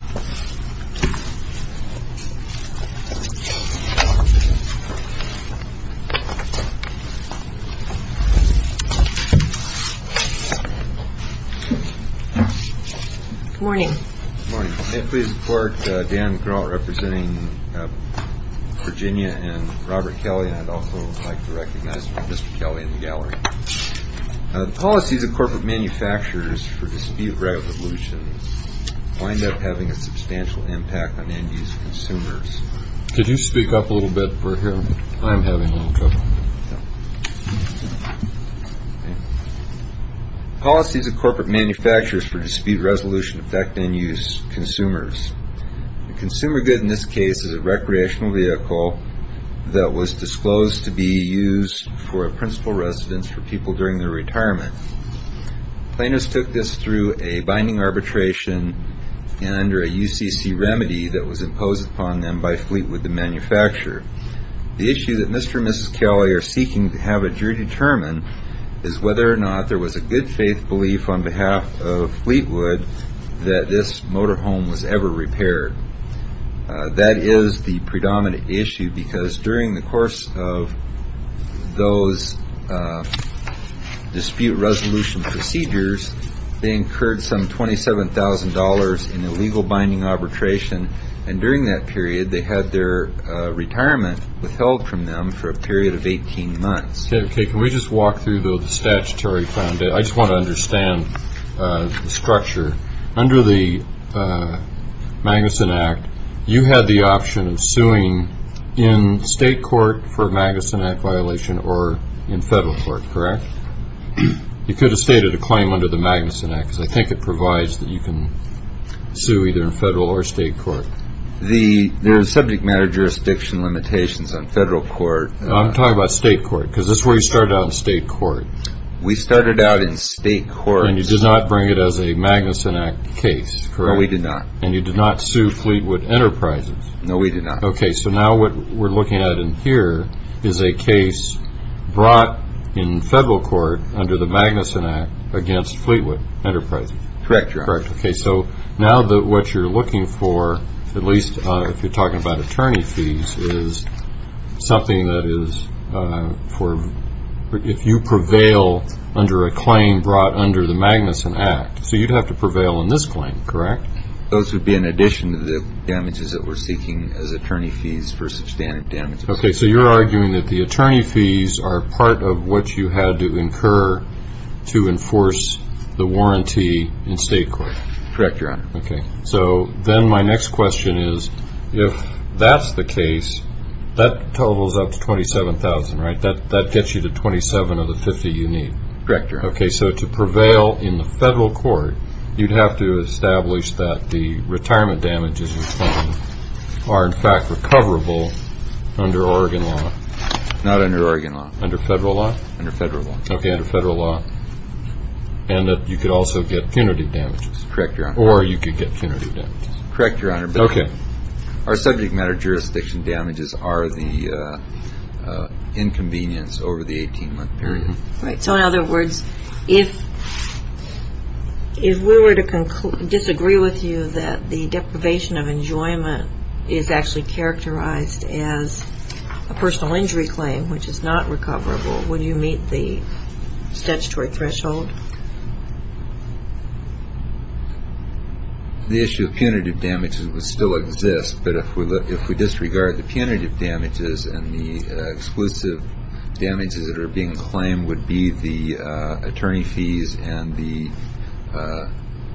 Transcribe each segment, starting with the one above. Good morning. Good morning. May it please the clerk, Dan Grault representing Virginia and Robert Kelly, and I'd also like to recognize Mr. Kelly in the gallery. The policies of corporate manufacturers for dispute resolution wind up having a substantial impact on end-use consumers. Could you speak up a little bit for him? I'm having a little trouble. Policies of corporate manufacturers for dispute resolution affect end-use consumers. The consumer good in this case is a recreational vehicle that was disclosed to be used for a principal residence for people during their retirement. Plaintiffs took this through a binding arbitration and under a UCC remedy that was imposed upon them by Fleetwood, the manufacturer. The issue that Mr. and Mrs. Kelly are seeking to have a jury determine is whether or not there was a good faith belief on behalf of Fleetwood that this motor home was ever repaired. That is the predominant issue because during the course of those dispute resolution procedures, they incurred some $27,000 in illegal binding arbitration and during that period they had their retirement withheld from them for a period of 18 months. Okay, can we just walk through the statutory? I just want to understand the structure. Under the Magnuson Act, you had the option of suing in state court for a Magnuson Act violation or in federal court, correct? You could have stated a claim under the Magnuson Act because I think it provides that you can sue either in federal or state court. There are subject matter jurisdiction limitations on federal court. I'm talking about state court because this is where you started out in state court. We started out in state court. And you did not bring it as a Magnuson Act case, correct? No, we did not. And you did not sue Fleetwood Enterprises? No, we did not. Okay, so now what we're looking at in here is a case brought in federal court under the Magnuson Act against Fleetwood Enterprises. Correct, Your Honor. Correct, okay, so now what you're looking for, at least if you're talking about attorney fees, is something that is for if you prevail under a claim brought under the Magnuson Act. So you'd have to prevail in this claim, correct? Those would be in addition to the damages that we're seeking as attorney fees for substantive damages. Okay, so you're arguing that the attorney fees are part of what you had to incur to enforce the warranty in state court. Correct, Your Honor. Okay, so then my next question is, if that's the case, that totals up to $27,000, right? That gets you to $27,000 of the $50,000 you need. Correct, Your Honor. Okay, so to prevail in the federal court, you'd have to establish that the retirement damages you claim are, in fact, recoverable under Oregon law. Not under Oregon law. Under federal law? Under federal law. Okay, under federal law, and that you could also get punitive damages. Correct, Your Honor. Or you could get punitive damages. Correct, Your Honor. Okay. Our subject matter jurisdiction damages are the inconvenience over the 18-month period. Right, so in other words, if we were to disagree with you that the deprivation of enjoyment is actually characterized as a personal injury claim, which is not recoverable, would you meet the statutory threshold? The issue of punitive damages would still exist, but if we disregard the punitive damages and the exclusive damages that are being claimed would be the attorney fees and the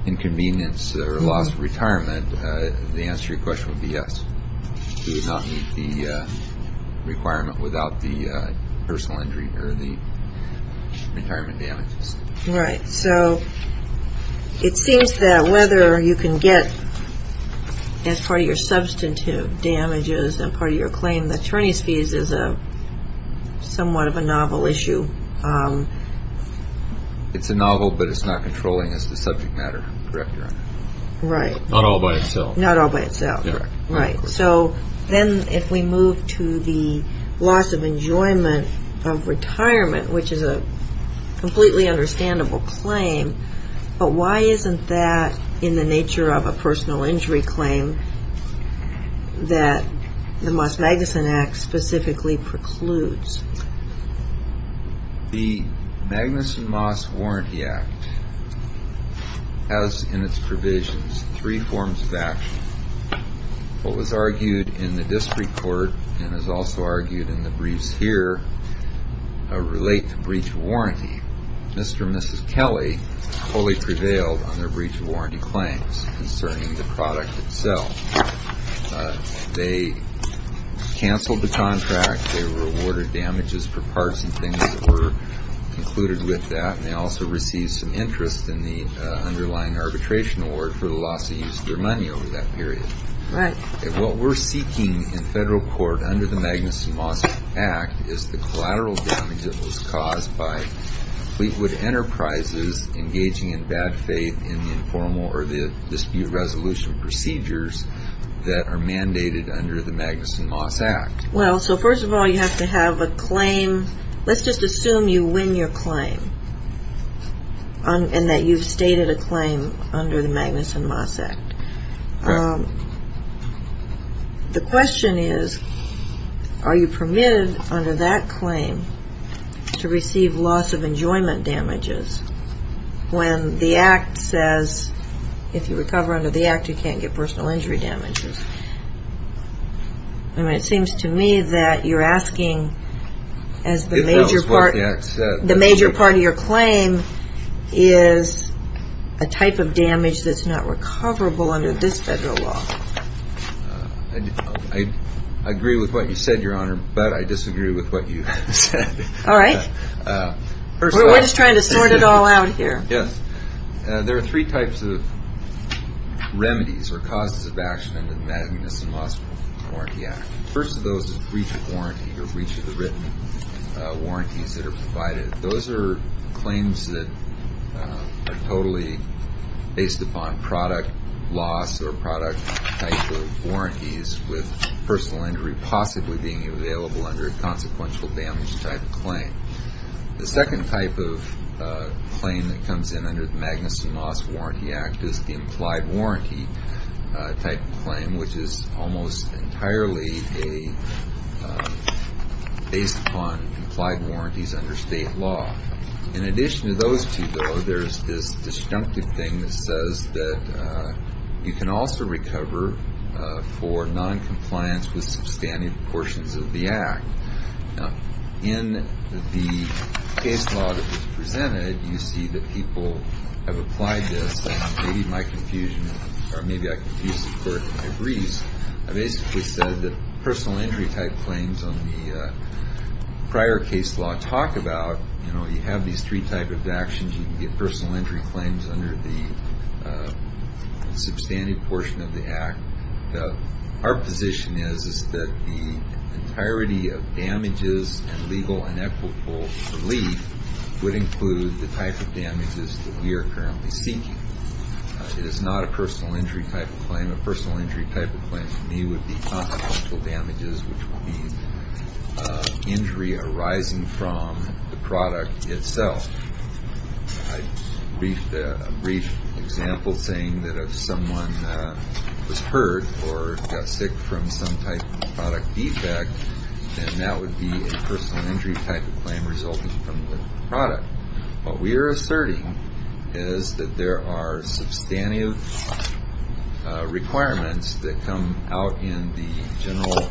inconvenience or loss of retirement, the answer to your question would be yes. You would not meet the requirement without the personal injury or the retirement damages. Right, so it seems that whether you can get, as part of your substantive damages and part of your claim, the attorney's fees is somewhat of a novel issue. It's a novel, but it's not controlling as the subject matter, correct, Your Honor? Right. Not all by itself. Not all by itself, correct. Right, so then if we move to the loss of enjoyment of retirement, which is a completely understandable claim, but why isn't that in the nature of a personal injury claim that the Moss-Magnuson Act specifically precludes? The Magnuson-Moss Warranty Act has in its provisions three forms of action. What was argued in the district court and is also argued in the briefs here relate to breach of warranty. Mr. and Mrs. Kelly fully prevailed on their breach of warranty claims concerning the product itself. They canceled the contract. They were awarded damages for parts and things that were included with that, and they also received some interest in the underlying arbitration award for the loss of use of their money over that period. Right. What we're seeking in federal court under the Magnuson-Moss Act is the collateral damage that was caused by Fleetwood Enterprises engaging in bad faith in the informal or dispute resolution procedures that are mandated under the Magnuson-Moss Act. Well, so first of all, you have to have a claim. Let's just assume you win your claim and that you've stated a claim under the Magnuson-Moss Act. The question is, are you permitted under that claim to receive loss of enjoyment damages when the Act says if you recover under the Act, you can't get personal injury damages? I mean, it seems to me that you're asking as the major part of your claim is a type of damage that's not recoverable under this federal law. I agree with what you said, Your Honor, but I disagree with what you said. All right. We're just trying to sort it all out here. Yes. There are three types of remedies or causes of action under the Magnuson-Moss Warranty Act. The first of those is breach of warranty or breach of the written warranties that are provided. Those are claims that are totally based upon product loss or product type of warranties with personal injury possibly being available under a consequential damage type of claim. The second type of claim that comes in under the Magnuson-Moss Warranty Act is the implied warranty type of claim, which is almost entirely based upon implied warranties under state law. In addition to those two, though, there's this disjunctive thing that says that you can also recover for noncompliance with substantive portions of the Act. In the case law that was presented, you see that people have applied this. Maybe my confusion, or maybe I confused the court in a breeze. I basically said that personal injury type claims on the prior case law talk about, you know, you have these three types of actions. You can get personal injury claims under the substantive portion of the Act. Our position is that the entirety of damages and legal and equitable relief would include the type of damages that we are currently seeking. It is not a personal injury type of claim. A personal injury type of claim to me would be consequential damages, which would be injury arising from the product itself. A brief example saying that if someone was hurt or got sick from some type of product defect, then that would be a personal injury type of claim resulting from the product. What we are asserting is that there are substantive requirements that come out in the general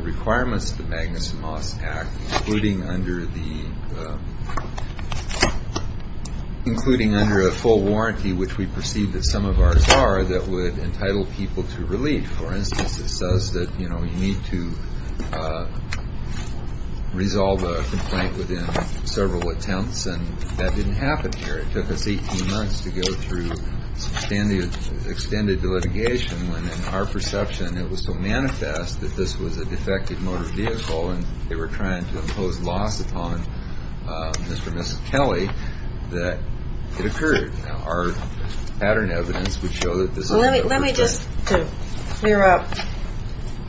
requirements of the Magnuson-Moss Act, including under a full warranty, which we perceive that some of ours are, that would entitle people to relief. For instance, it says that, you know, you need to resolve a complaint within several attempts, and that didn't happen here. It took us 18 months to go through some extended litigation when, in our perception, it was so manifest that this was a defective motor vehicle and they were trying to impose loss upon Mr. and Mrs. Kelly that it occurred. Our pattern evidence would show that this is the purpose. Let me just, to clear up,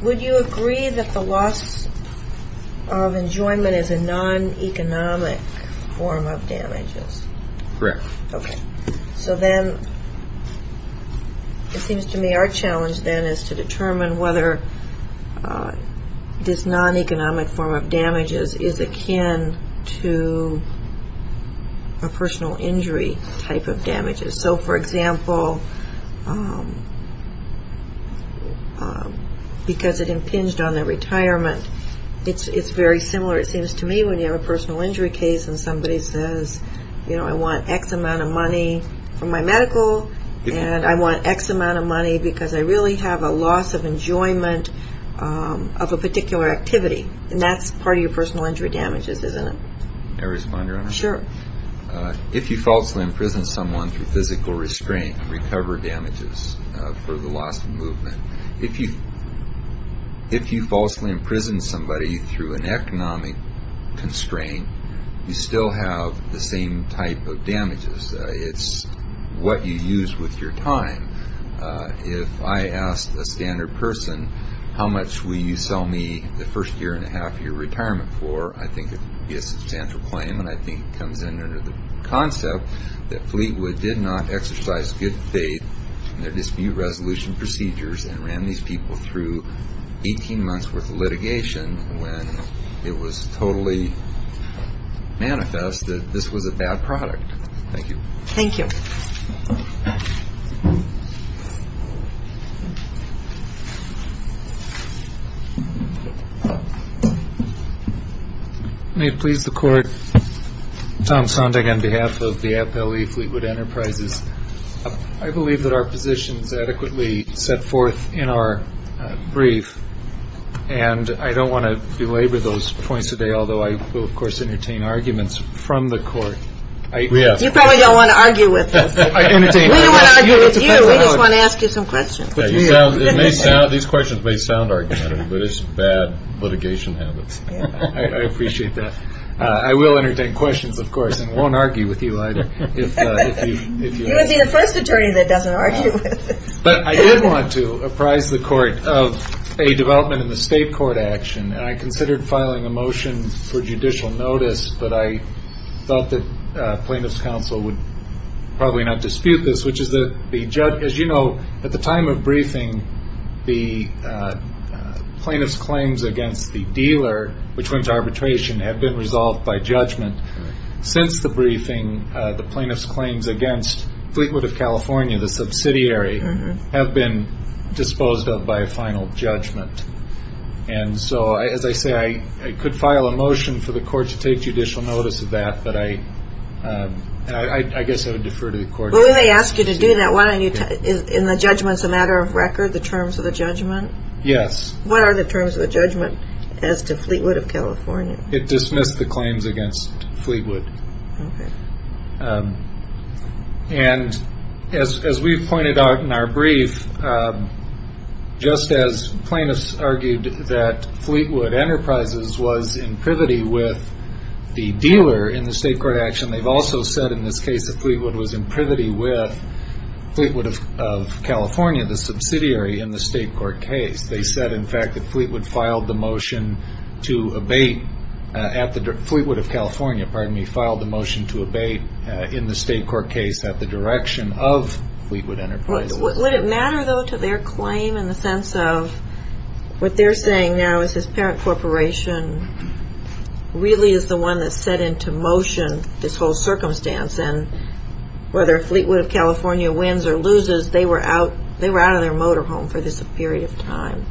would you agree that the loss of enjoyment is a non-economic form of damages? Correct. Okay. So then it seems to me our challenge then is to determine whether this non-economic form of damages is akin to a personal injury type of damages. So, for example, because it impinged on their retirement, it's very similar, it seems to me, when you have a personal injury case and somebody says, you know, I want X amount of money for my medical, and I want X amount of money because I really have a loss of enjoyment of a particular activity, and that's part of your personal injury damages, isn't it? May I respond, Your Honor? Sure. If you falsely imprison someone through physical restraint and recover damages for the loss of movement, if you falsely imprison somebody through an economic constraint, you still have the same type of damages. It's what you use with your time. If I asked a standard person, how much will you sell me the first year and a half of your retirement for, I think it would be a substantial claim, and I think it comes in under the concept that Fleetwood did not exercise good faith in their dispute resolution procedures and ran these people through 18 months worth of litigation when it was totally manifest that this was a bad product. Thank you. Thank you. May it please the Court, Tom Sondag on behalf of the FLE Fleetwood Enterprises. I believe that our position is adequately set forth in our brief, and I don't want to belabor those points today, although I will, of course, entertain arguments from the Court. You probably don't want to argue with us. We don't want to argue with you. We just want to ask you some questions. These questions may sound argumentative, but it's bad litigation habits. I appreciate that. I will entertain questions, of course, and won't argue with you either. You would be the first attorney that doesn't argue with us. But I did want to apprise the Court of a development in the state court action, and I considered filing a motion for judicial notice, but I thought that plaintiff's counsel would probably not dispute this, which is that the judge, as you know, at the time of briefing, the plaintiff's claims against the dealer, which went to arbitration, have been resolved by judgment. Since the briefing, the plaintiff's claims against Fleetwood of California, the subsidiary, have been disposed of by a final judgment. And so, as I say, I could file a motion for the Court to take judicial notice of that, but I guess I would defer to the Court. Well, when they ask you to do that, isn't the judgment a matter of record, the terms of the judgment? Yes. What are the terms of the judgment as to Fleetwood of California? It dismissed the claims against Fleetwood. Okay. And as we pointed out in our brief, just as plaintiffs argued that Fleetwood Enterprises was in privity with the dealer in the state court action, they've also said in this case that Fleetwood was in privity with Fleetwood of California, the subsidiary, in the state court case. They said, in fact, that Fleetwood filed the motion to abate at the ‑‑Fleetwood of California, pardon me, filed the motion to abate in the state court case at the direction of Fleetwood Enterprises. Would it matter, though, to their claim in the sense of what they're saying now is this parent corporation really is the one that set into motion this whole circumstance, and whether Fleetwood of California wins or loses, they were out of their motor home for this period of time.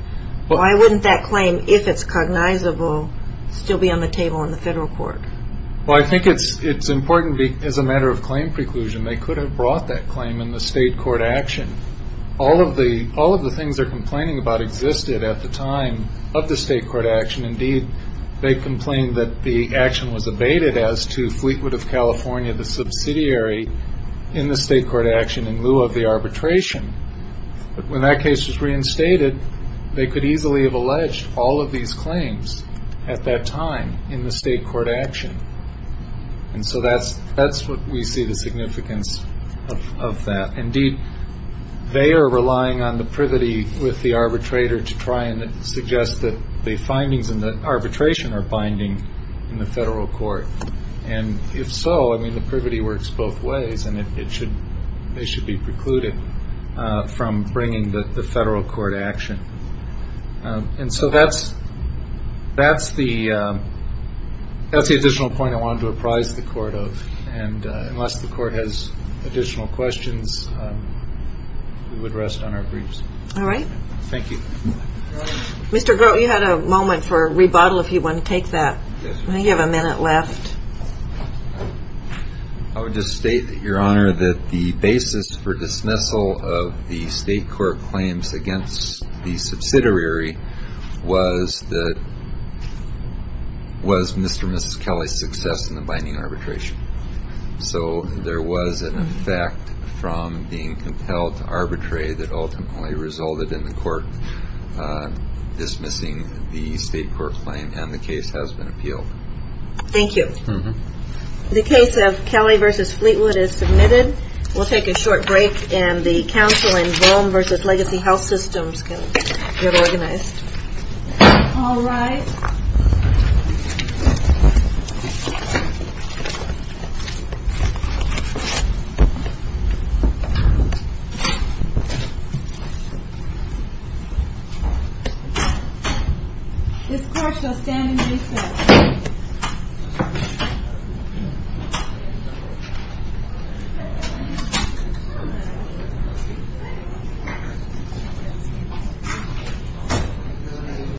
Why wouldn't that claim, if it's cognizable, still be on the table in the federal court? Well, I think it's important as a matter of claim preclusion. They could have brought that claim in the state court action. All of the things they're complaining about existed at the time of the state court action. Indeed, they complained that the action was abated as to Fleetwood of California, the subsidiary, in the state court action in lieu of the arbitration. When that case was reinstated, they could easily have alleged all of these claims at that time in the state court action. And so that's what we see the significance of that. Indeed, they are relying on the privity with the arbitrator to try and suggest that the findings in the arbitration are binding in the federal court. And if so, I mean, the privity works both ways, and they should be precluded from bringing the federal court action. And so that's the additional point I wanted to apprise the court of. And unless the court has additional questions, we would rest on our briefs. All right. Thank you. Mr. Grote, you had a moment for a rebuttal if you want to take that. You have a minute left. I would just state that, Your Honor, that the basis for dismissal of the state court claims against the subsidiary was that Mr. and Mrs. Kelly's success in the binding arbitration. So there was an effect from being compelled to arbitrate that ultimately resulted in the court dismissing the state court claim, and the case has been appealed. Thank you. The case of Kelly v. Fleetwood is submitted. We'll take a short break, and the counsel in Volm v. Legacy Health Systems can get organized. All rise. This court shall stand in recess. Thank you.